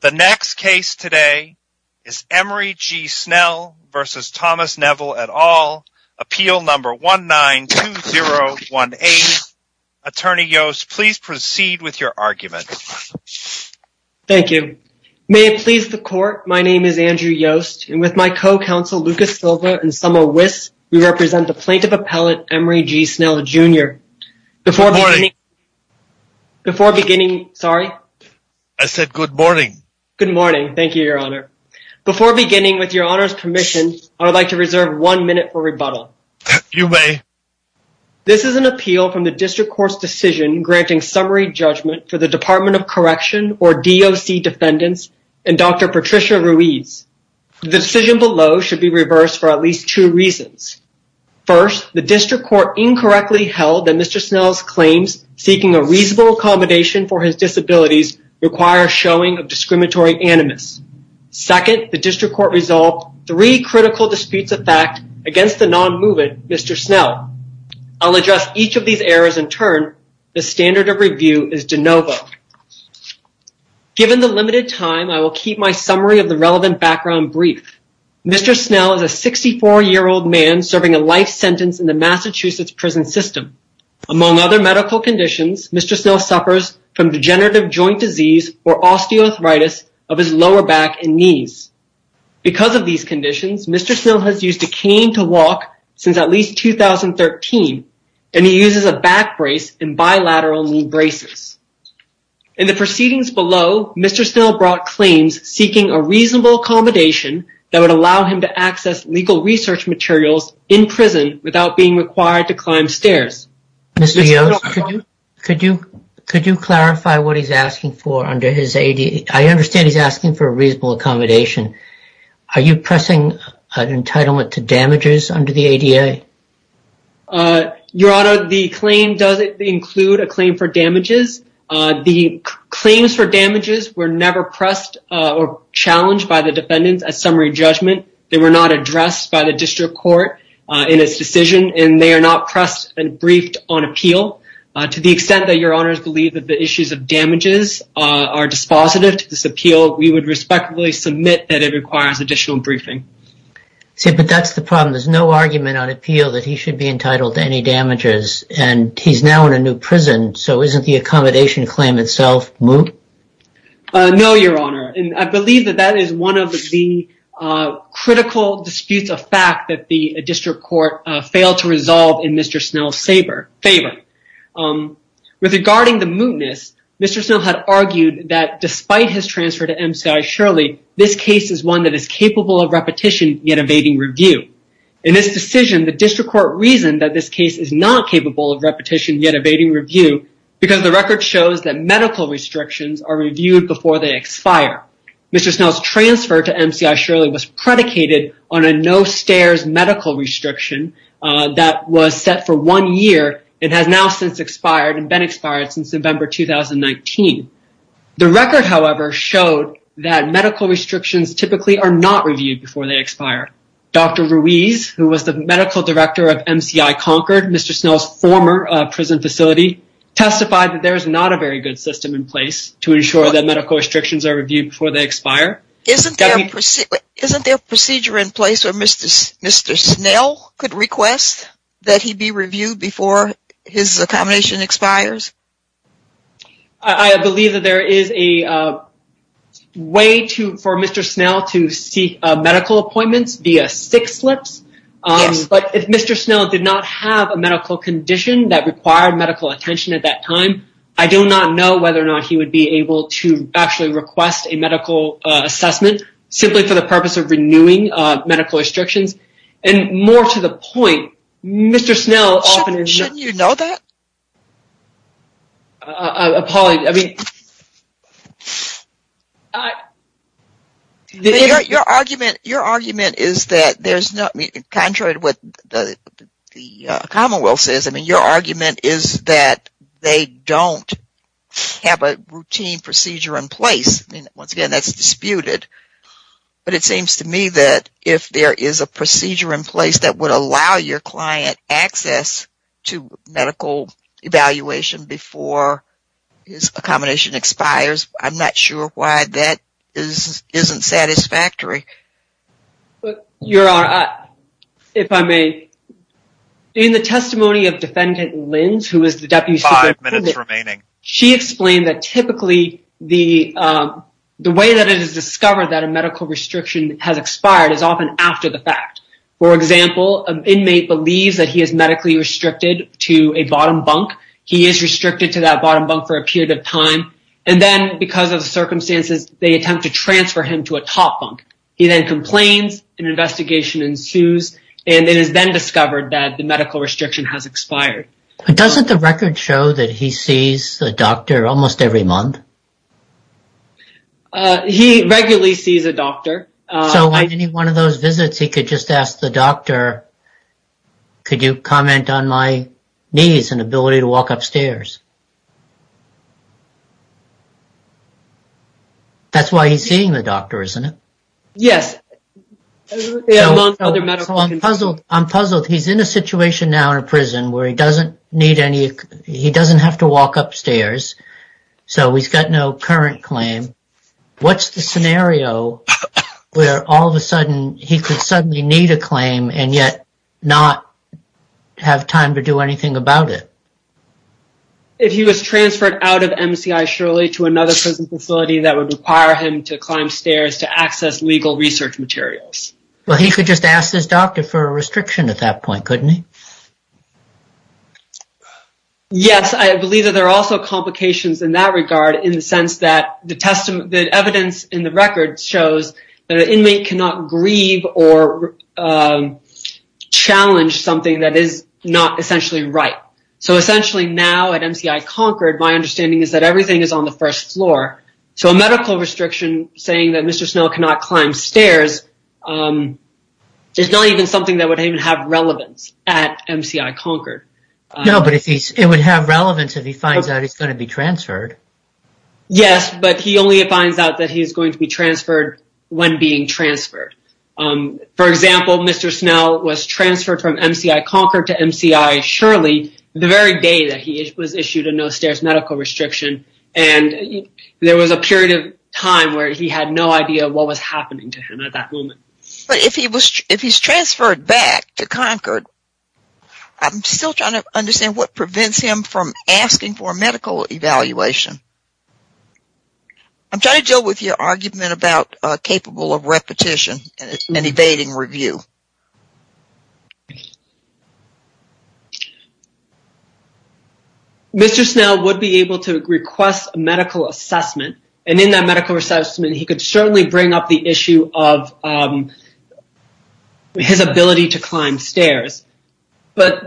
The next case today is Emery G. Snell v. Thomas Neville et al. Appeal number 192018. Attorney Yost, please proceed with your argument. Thank you. May it please the court, my name is Andrew Yost, and with my co-counsel Lucas Silva and Summer Wiss, we represent the plaintiff appellate Emery G. Snell Jr. Before beginning, I would like to reserve one minute for rebuttal. You may. This is an appeal from the district court's decision granting summary judgment for the Department of Correction or DOC defendants and Dr. Patricia Ruiz. The decision below should be reversed for at least two reasons. First, the district court incorrectly held that Mr. Snell's claims seeking a reasonable accommodation for his disabilities require showing of discriminatory animus. Second, the district court resolved three critical disputes of fact against the non-movement Mr. Snell. I'll address each of these errors in turn. The standard of review is de novo. Given the limited time, I will keep my summary of the relevant background brief. Mr. Snell is a 64-year-old man serving a life sentence in the Massachusetts prison system. Among other medical conditions, Mr. Snell suffers from degenerative joint disease or osteoarthritis of his lower back and knees. Because of these conditions, Mr. Snell has used a cane to walk since at least 2013, and he uses a back brace and bilateral knee braces. In the proceedings below, Mr. Snell brought claims seeking a reasonable accommodation that would allow him to access legal research materials in prison without being required to climb stairs. Mr. Yost, could you clarify what he's asking for under his ADA? I understand he's asking for a reasonable accommodation. Are you pressing an entitlement to damages under the ADA? Your Honor, the claim doesn't include a claim for damages. The claims for damages were never pressed or challenged by the defendants at summary judgment. They were not addressed by the district court in its decision, and they are not pressed and briefed on appeal. To the extent that Your Honor's believe that the issues of damages are dispositive to this appeal, we would respectfully submit that it requires additional briefing. But that's the problem. There's no argument on appeal that he should be entitled to any damages, and he's now in a new prison, so isn't the accommodation claim itself moot? No, Your Honor. I believe that that is one of the critical disputes of fact that the district court failed to resolve in Mr. Snell's favor. With regarding the mootness, Mr. Snell had argued that despite his transfer to MCI Shirley, this case is one that is capable of repetition yet evading review. In this decision, the district court reasoned that this case is not capable of repetition yet evading review because the record shows that medical restrictions are reviewed before they expire. Mr. Snell's transfer to MCI Shirley was predicated on a no-stairs medical restriction that was set for one year and has now since expired and been expired since November 2019. The record, however, showed that medical restrictions typically are not reviewed before they expire. Dr. Ruiz, who was the medical director of MCI Concord, Mr. Snell's former prison facility, testified that there is not a very good system in place to ensure that medical restrictions are reviewed before they expire. Isn't there a procedure in place where Mr. Snell could request that he be reviewed before his accommodation expires? I believe that there is a way for Mr. Snell to seek medical appointments via sick slips. Yes. But if Mr. Snell did not have a medical condition that required medical attention at that time, I do not know whether or not he would be able to actually request a medical assessment simply for the purpose of renewing medical restrictions. And more to the point, Mr. Snell shouldn't you know that? Your argument is that there's not, contrary to what the commonwealth says, I mean your argument is that they don't have a routine procedure in place. I mean once again that's disputed, but it seems to me that if there is a procedure in place that would allow your client access to medical evaluation before his accommodation expires, I'm not sure why that is isn't satisfactory. Your Honor, if I may, in the testimony of defendant Lins, who is the deputy that a medical restriction has expired is often after the fact. For example, an inmate believes that he is medically restricted to a bottom bunk. He is restricted to that bottom bunk for a period of time, and then because of the circumstances they attempt to transfer him to a top bunk. He then complains, an investigation ensues, and it is then discovered that the medical restriction has expired. But doesn't the record show that he sees the doctor almost every month? He regularly sees a doctor. So on any one of those visits he could just ask the doctor, could you comment on my knees and ability to walk upstairs? That's why he's seeing the doctor, isn't it? Yes. I'm puzzled. He's in a situation now in a prison where he doesn't need any, he doesn't have to walk upstairs, so he's got no current claim. What's the scenario where all of a sudden he could suddenly need a claim and yet not have time to do anything about it? If he was transferred out of MCI Shirley to another prison facility that would require him to climb stairs to access legal research materials. Well he could just ask his doctor for a restriction at that point, couldn't he? Yes, I believe that there are also complications in that regard in the sense that the evidence in the record shows that an inmate cannot grieve or challenge something that is not essentially right. So essentially now at MCI Concord my understanding is that everything is on the first floor. So a medical restriction saying that Mr. Snell cannot climb stairs is not even something that would even have relevance at MCI Concord. No, but it would have relevance if he finds out he's going to be transferred. Yes, but he only finds out that he is going to be transferred when being transferred. For example, Mr. Snell was transferred from MCI Concord to MCI Shirley the very day that he was issued a no stairs medical restriction and there was a period of time where he had no idea what was happening to him at that moment. But if he's transferred back to Concord, I'm still trying to understand what prevents him from asking for a medical evaluation. I'm trying to deal with your argument about capable of repetition and evading review. Mr. Snell would be able to request a medical assessment and in that medical assessment he could certainly bring up the issue of his ability to climb stairs. But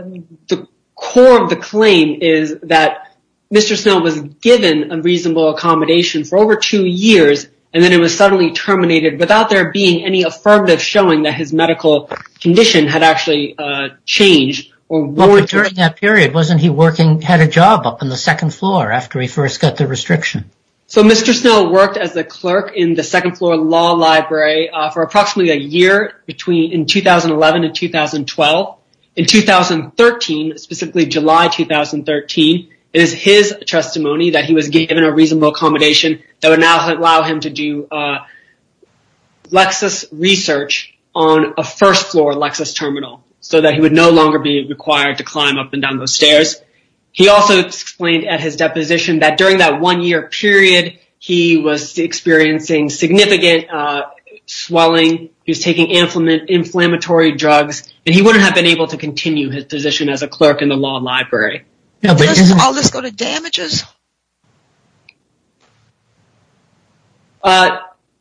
the core of the claim is that Mr. Snell was given a reasonable accommodation for over two years and then it was suddenly terminated without there being any affirmative showing that his medical condition had actually changed. During that period, wasn't he working at a job up on the second floor after he first got the restriction? So Mr. Snell worked as a clerk in the second floor law library for approximately a year between 2011 and 2012. In 2013, specifically July 2013, it is his testimony that he was given a reasonable accommodation that would now allow him to do Lexis research on a first floor Lexis terminal so that he would no longer be required to climb up and down those stairs. He also explained at his deposition that during that one year period he was experiencing significant swelling. He was taking inflammatory drugs and he wouldn't have been able to continue his position as a clerk in the law library. Does all this go to damages?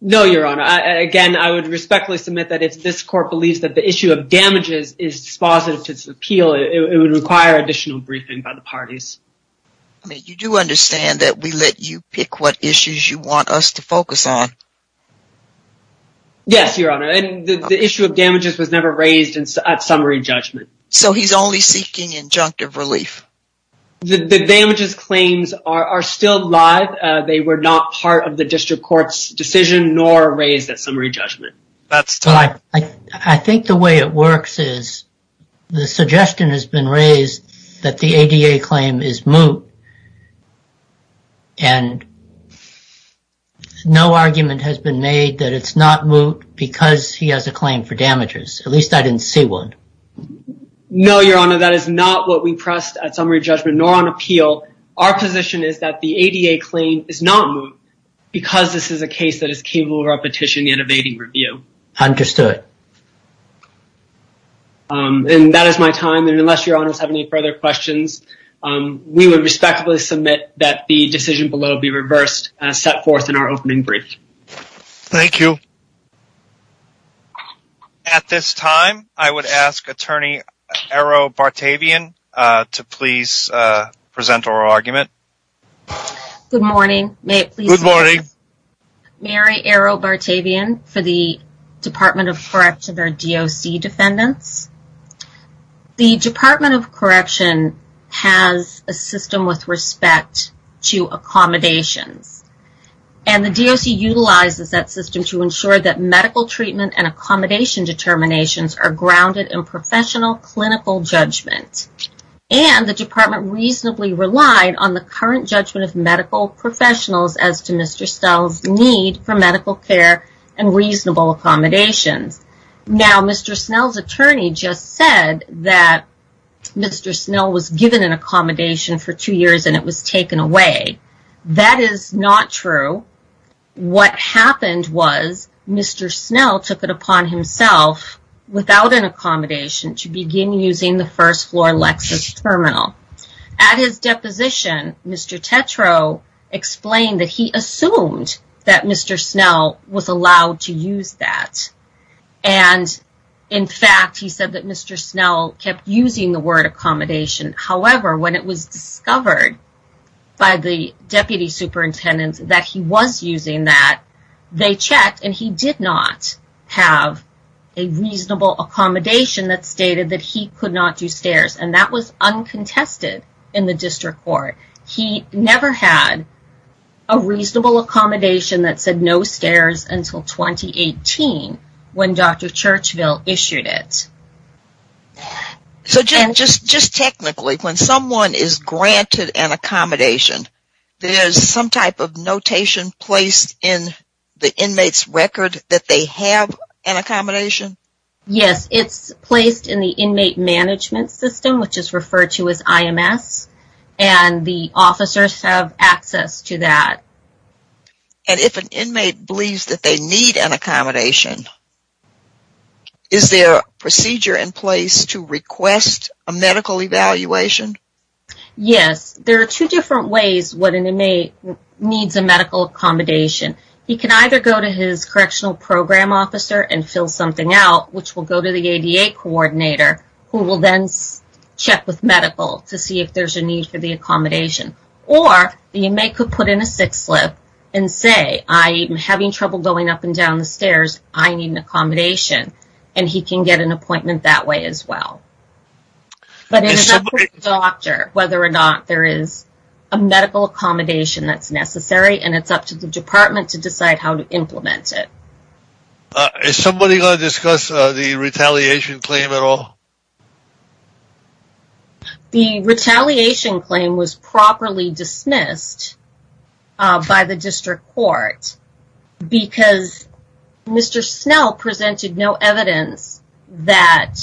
No, your honor. Again, I would respectfully submit that if this court believes that the by the parties. I mean, you do understand that we let you pick what issues you want us to focus on? Yes, your honor. And the issue of damages was never raised at summary judgment. So he's only seeking injunctive relief? The damages claims are still live. They were not part of the district court's decision nor raised at summary judgment. I think the way it works is the suggestion has been raised that the ADA claim is moot. And no argument has been made that it's not moot because he has a claim for damages. At least I didn't see one. No, your honor. That is not what we pressed at summary judgment nor on appeal. Our position is that the ADA claim is not moot because this is a case that is capable of petitioning and evading review. Understood. And that is my time. And unless your honors have any further questions, we would respectfully submit that the decision below be reversed and set forth in our opening brief. Thank you. At this time, I would ask attorney Arrow Bartavian to please present our argument. Good morning. May it please be known. Good morning. Mary Arrow Bartavian for the Department of Correction or DOC defendants. The Department of Correction has a system with respect to accommodations. And the DOC utilizes that system to ensure that medical treatment and accommodation determinations are grounded in professional clinical judgment. And the current judgment of medical professionals as to Mr. Snell's need for medical care and reasonable accommodations. Now, Mr. Snell's attorney just said that Mr. Snell was given an accommodation for two years and it was taken away. That is not true. What happened was Mr. Snell took it upon himself without an accommodation to begin using the first floor Lexus terminal. At his deposition, Mr. Tetreault explained that he assumed that Mr. Snell was allowed to use that. And in fact, he said that Mr. Snell kept using the word accommodation. However, when it was discovered by the deputy superintendents that he was using that, they checked and he did not have a reasonable accommodation that stated that he could not do stairs. And that was uncontested in the district court. He never had a reasonable accommodation that said no stairs until 2018 when Dr. Churchville issued it. So Jen, just technically, when someone is granted an accommodation, there's some type of notation placed in the inmate's record that they have an accommodation? Yes, it's placed in the inmate management system which is referred to as IMS and the officers have access to that. And if an inmate believes that they need an accommodation, is there a procedure in place to request a medical evaluation? Yes, there are two different ways what an inmate needs a medical accommodation. He can either go to his correctional program officer and fill something out which will go to the ADA coordinator who will then check with medical to see if there's a need for the accommodation. Or the inmate could put in a six slip and say, I am having trouble going up and down the stairs, I need an accommodation. And he can get an appointment that way as well. But it is up to the doctor whether or not there is a medical accommodation that's necessary and it's up to the department to decide how to implement it. Is somebody going to discuss the retaliation claim at all? The retaliation claim was properly dismissed by the district court because Mr. Snell presented no evidence that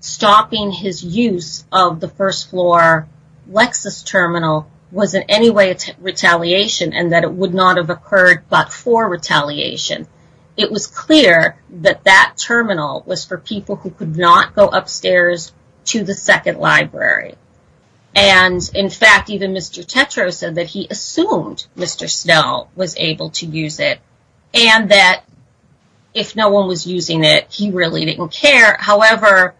stopping his use of the first floor Lexus terminal was in any way retaliation and that it would not have occurred but for retaliation. It was clear that that terminal was for people who could not go upstairs to the second library. And in fact, even Mr. Tetreault said that he assumed Mr. Snell was able to use it and that if no one was using it, he really didn't care. However,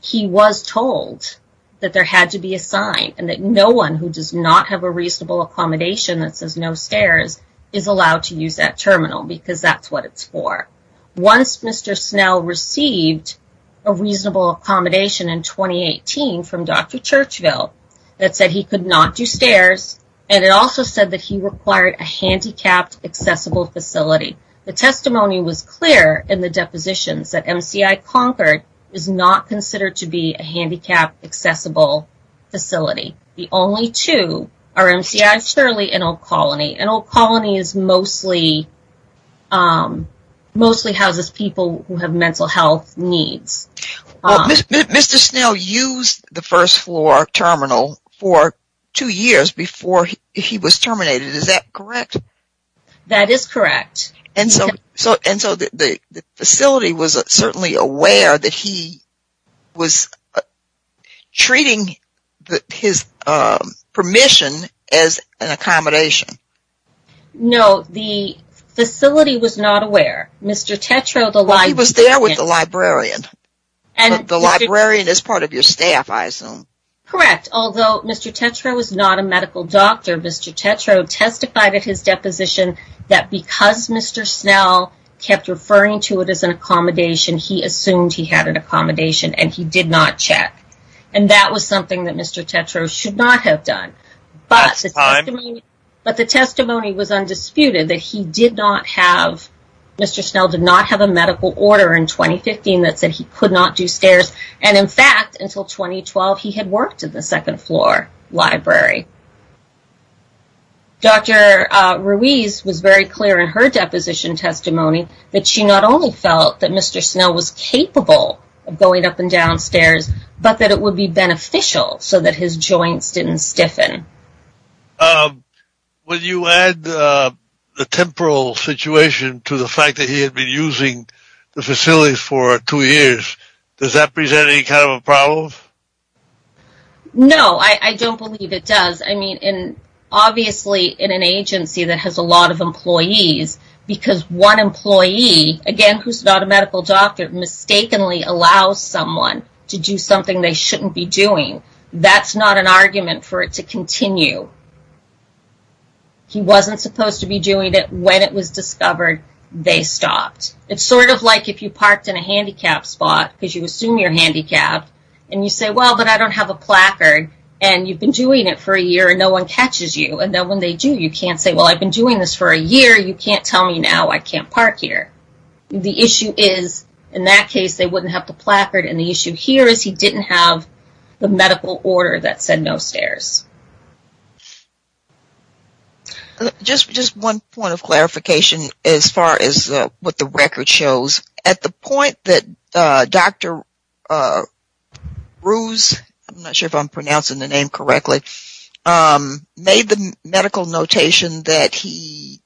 he was told that there had to be a sign and that no one who does not have a reasonable accommodation that says no stairs is allowed to use that terminal because that's what it's for. Once Mr. Snell received a reasonable accommodation in 2018 from Dr. Churchville that said he could not do stairs and it also said that he required a handicapped accessible facility. The testimony was clear in the depositions that MCI Concord is not considered to be a handicapped accessible facility. The only two are MCI Shirley and Old Colony. And Old Colony mostly houses people who have mental health needs. Well, Mr. Snell used the first floor terminal for two years before he was terminated. Is that correct? That is correct. And so the facility was certainly aware that he was treating his permission as an accommodation. No, the facility was not aware. Mr. Tetreault was there with the librarian. And the librarian is part of your staff, I assume. Correct. Although Mr. Tetreault was not a medical doctor, Mr. Tetreault testified at his deposition that because Mr. Snell kept referring to it as an accommodation, he assumed he had an accommodation and he did not check. And that was something that Mr. Tetreault should not have done. But the testimony was undisputed that he did not have, Mr. Snell did not have a medical order in 2015 that said he could not do stairs. And in fact, until 2012, he had worked in the second floor library. Dr. Ruiz was very clear in her deposition testimony that she not only felt that Mr. Snell was capable of going up and down stairs, but that it would be beneficial so that his joints didn't stiffen. When you add the temporal situation to the fact that he had been using the facility for two years, does that present any kind of a problem? No, I don't believe it does. I mean, obviously in an agency that has a lot of employees, because one employee, again, who's not a medical doctor, mistakenly allows someone to do something they shouldn't be doing. That's not an argument for it to continue. He wasn't supposed to be doing it. When it was discovered, they stopped. It's sort of like if you parked in a handicapped spot, because you assume you're handicapped, and you say, well, but I don't have a placard, and you've been doing it for a year, and no one catches you. And then when they do, you can't say, well, I've been doing this for a year. You can't tell me now I can't park here. The issue is, in that case, they wouldn't have the placard. And the issue here is he didn't have the medical order that said no stairs. Just one point of clarification as far as what the record shows. At the point that Dr. Ruse, I'm not sure if I'm pronouncing the name correctly, made the medical notation that he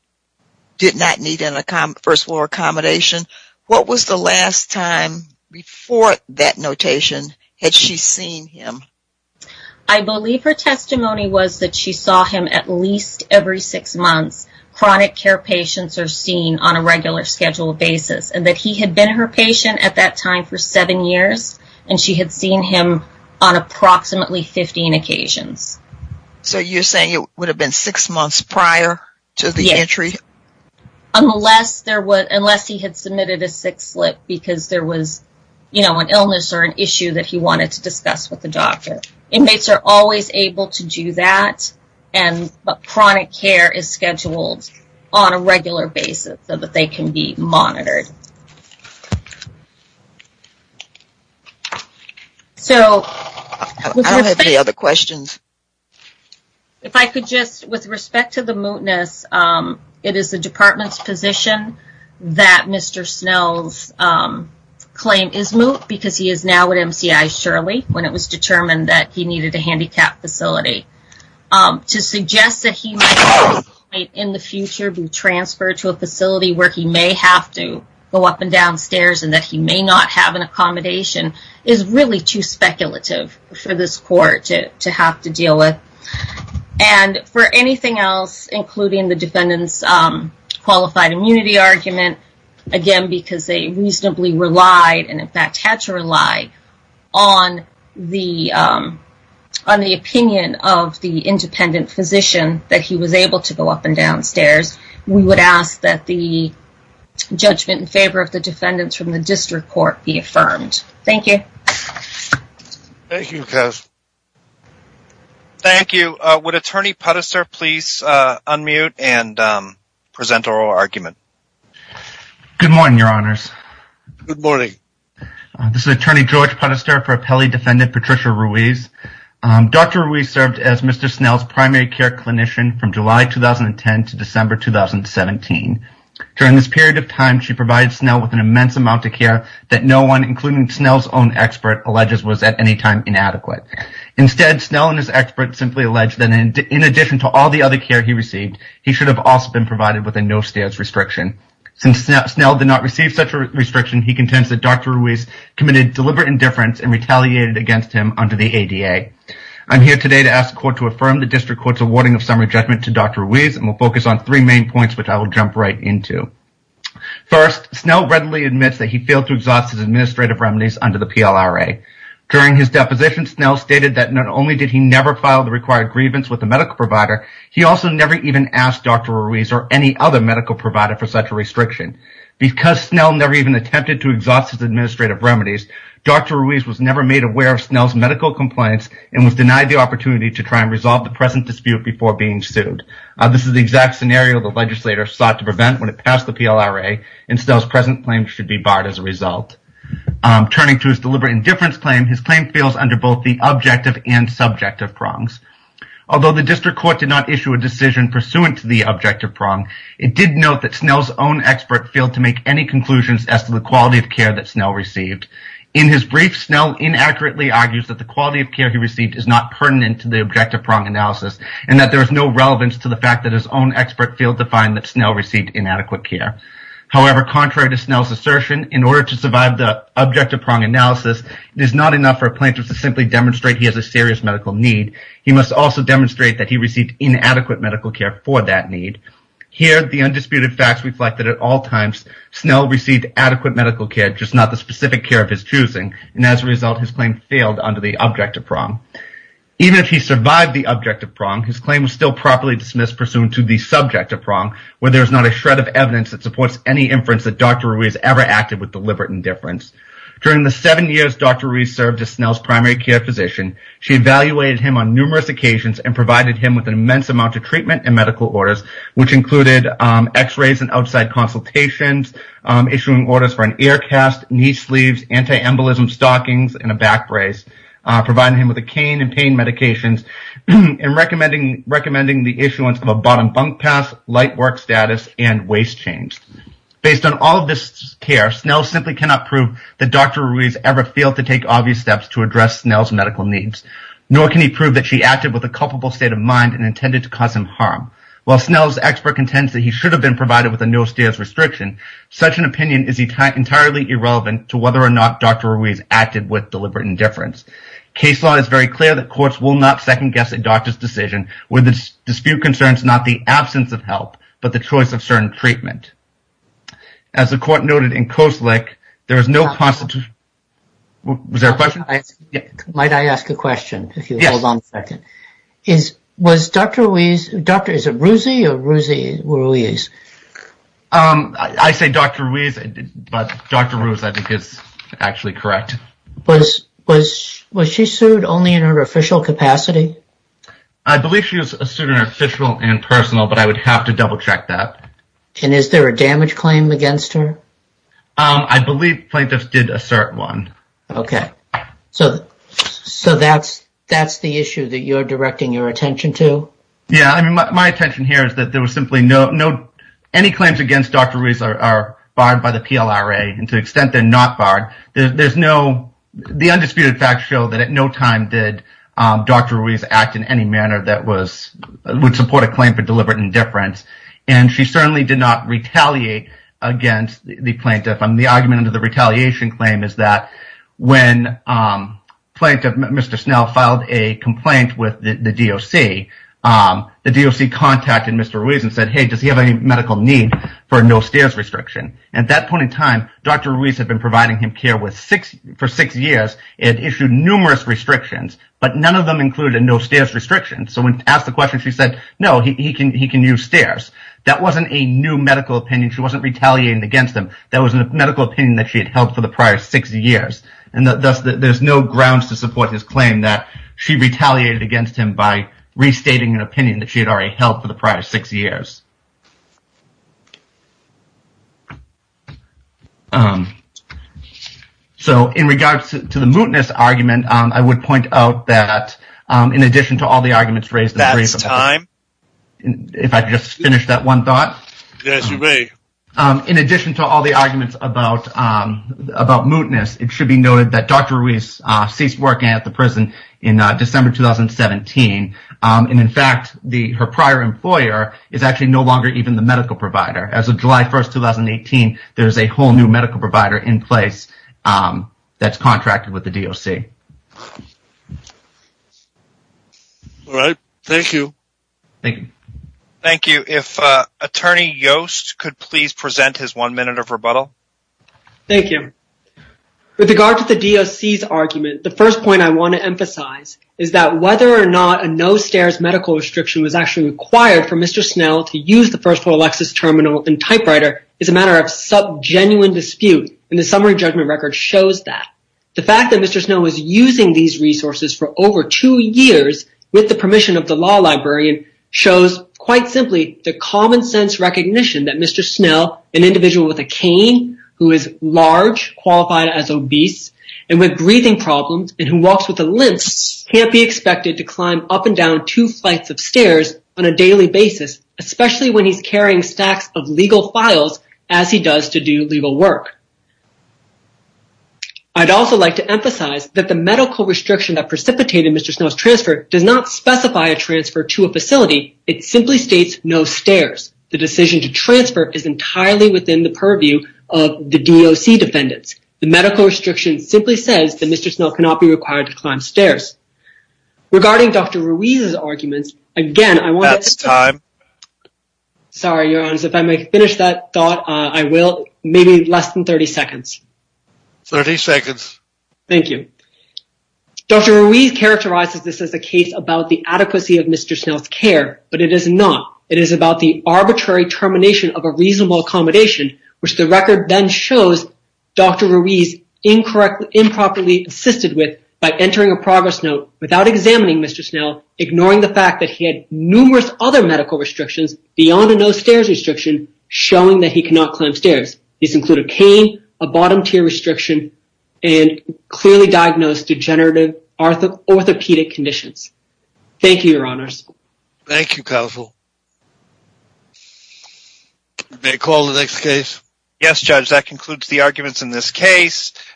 did not need a first floor accommodation. What was the last time before that notation had she seen him? I believe her testimony was that she saw him at least every six months. Chronic care patients are seen on a regular scheduled basis, and that he had been her patient at that time for seven years, and she had seen him on approximately 15 occasions. So you're saying it would have been six months prior to the entry? Unless he had submitted a sick slip because there was, you know, an illness or an issue that he wanted to discuss with the doctor. Inmates are always able to do that, and chronic care is scheduled on a regular basis so that they can be monitored. I don't have any other questions. If I could just, with respect to the mootness, it is the department's position that Mr. Snell's claim is moot because he is now at MCI Shirley when it was determined that he needed a handicapped facility. To suggest that he might in the future be transferred to a facility where he may have to go up and down stairs and that he may not have an accommodation is really too speculative for this court to have to deal with. And for anything else, including the defendant's qualified immunity argument, again because they reasonably relied, and in fact had to rely, on the opinion of the independent physician that he was able to go up and down stairs, we would ask that the judgment in favor of the defendants from the district court be affirmed. Thank you. Thank you. Would attorney Puddister please unmute and present oral argument? Good morning, your honors. Good morning. This is attorney George Puddister for appellee defendant Patricia Ruiz. Dr. Ruiz served as Mr. Snell's primary care clinician from July 2010 to December 2017. During this period of time, she provided Snell with an immense amount of care that no one, including Snell's own expert, alleges was at any time inadequate. Instead, Snell and his expert simply alleged that in addition to all the other care he received, he should have also been provided with a no stairs restriction. Since Snell did not receive such a restriction, he contends that Dr. Ruiz committed deliberate indifference and retaliated against him under the ADA. I'm here today to ask the court to affirm the district court's awarding of summary judgment to Dr. Ruiz, and we'll focus on three main points which I will jump right into. First, Snell readily admits that he failed to exhaust his administrative remedies under the PLRA. During his deposition, Snell stated that not only did he never file the required grievance with the medical provider, he also never even asked Dr. Ruiz or any other medical provider for such a restriction. Because Snell never even attempted to exhaust his administrative remedies, Dr. Ruiz was never made aware of Snell's medical complaints and was denied the opportunity to try and resolve the present dispute before being sued. This is the exact scenario the legislator sought to prevent when it passed the PLRA, and Snell's present claims should be barred as a result. Turning to his deliberate indifference claim, his claim fails under both the objective and subjective prongs. Although the district court did not issue a decision pursuant to the objective prong, it did note that Snell's own expert failed to make any conclusions as to the quality of care that Snell received. In his brief, Snell inaccurately argues that the quality of care he received is not pertinent to the objective prong analysis, and that there is no relevance to the fact that his own expert failed to find that Snell received inadequate care. However, contrary to Snell's assertion, in order to survive the objective prong analysis, it is not enough for plaintiffs to simply demonstrate he has a serious medical need. He must also demonstrate that he received inadequate medical care for that need. Here, the undisputed facts reflect that at all times, Snell received adequate medical care, just not the specific care of his choosing, and as a result, his claim failed under the objective prong. His claim was still properly dismissed pursuant to the subjective prong, where there is not a shred of evidence that supports any inference that Dr. Ruiz ever acted with deliberate indifference. During the seven years Dr. Ruiz served as Snell's primary care physician, she evaluated him on numerous occasions and provided him with an immense amount of treatment and medical orders, which included x-rays and outside consultations, issuing orders for an ear cast, knee sleeves, anti-embolism stockings, and a back brace, providing him with a cane and pain medications, and recommending the issuance of a bottom bunk pass, light work status, and waist chains. Based on all of this care, Snell simply cannot prove that Dr. Ruiz ever failed to take obvious steps to address Snell's medical needs, nor can he prove that she acted with a culpable state of mind and intended to cause him harm. While Snell's expert contends that he should have been provided with a no-stares restriction, such an opinion is entirely irrelevant to whether or not Dr. Ruiz acted with deliberate indifference. Case law is very clear that courts will not second-guess a doctor's decision when the dispute concerns not the absence of help, but the choice of certain treatment. As the court noted in Koslick, there is no... Was there a question? Might I ask a question, if you hold on a second? Yes. Was Dr. Ruiz... Dr. is it Ruzy or Ruzy Ruiz? I say Dr. Ruiz, but Dr. Ruiz I think is actually correct. Was she sued only in her official capacity? I believe she was sued in her official and personal, but I would have to double-check that. And is there a damage claim against her? I believe plaintiffs did assert one. Okay, so that's the issue that you're directing your attention to? Yeah, I mean my attention here is that there was simply no... Any claims against Dr. Ruiz are barred by the PLRA, and to the extent they're not barred, there's no... The undisputed facts show that at no time did Dr. Ruiz act in any manner that was... Would support a claim for deliberate indifference, and she certainly did not retaliate against the plaintiff. The argument under the retaliation claim is that when plaintiff Mr. Snell filed a complaint with the DOC, the DOC contacted Mr. Ruiz and said, hey, does he have any medical need for a no-stairs restriction? At that point in time, Dr. Ruiz had been providing him care for six years. It issued numerous restrictions, but none of them included a no-stairs restriction. So when asked the question, she said, no, he can use stairs. That wasn't a new medical opinion. She wasn't retaliating against him. That was a medical opinion that she had held for the prior six years, and thus there's no grounds to support his claim that she retaliated against him by restating an opinion that she had already held for the prior six years. So, in regards to the mootness argument, I would point out that in addition to all the arguments raised... That's time. If I could just finish that one thought. Yes, you may. In addition to all the arguments about mootness, it should be noted that Dr. Ruiz ceased working at the prison in December 2017. And in fact, her prior employer is actually no longer even the medical provider. As of July 1st, 2018, there's a whole new medical provider in place that's contracted with the DOC. All right, thank you. Thank you. Thank you. If Attorney Yost could please present his one minute of rebuttal. Thank you. With regard to the DOC's argument, the first point I want to emphasize is that whether or not a no-stairs medical restriction was actually required for Mr. Snell to use the Alexis Terminal and typewriter is a matter of sub-genuine dispute. And the summary judgment record shows that. The fact that Mr. Snell was using these resources for over two years with the permission of the law librarian shows, quite simply, the common sense recognition that Mr. Snell, an individual with a cane, who is large, qualified as obese, and with breathing problems, and who walks with a limp, can't be expected to climb up and down two flights of stairs on a daily basis, especially when he's carrying stacks of legal files as he does to do legal work. I'd also like to emphasize that the medical restriction that precipitated Mr. Snell's transfer does not specify a transfer to a facility. It simply states no stairs. The decision to transfer is entirely within the purview of the DOC defendants. The medical restriction simply says that Mr. Snell cannot be required to climb stairs. Regarding Dr. Ruiz's arguments, again, I want to... That's time. Sorry, Your Honors, if I may finish that thought, I will. Maybe less than 30 seconds. 30 seconds. Thank you. Dr. Ruiz characterizes this as a case about the adequacy of Mr. Snell's care, but it is not. It is about the arbitrary termination of a reasonable accommodation, which the record then shows Dr. Ruiz incorrectly, assisted with by entering a progress note without examining Mr. Snell, ignoring the fact that he had numerous other medical restrictions beyond a no stairs restriction, showing that he cannot climb stairs. These include a cane, a bottom tier restriction, and clearly diagnosed degenerative orthopedic conditions. Thank you, Your Honors. Thank you, Counsel. May I call the next case? Yes, Judge, that concludes the arguments in this case.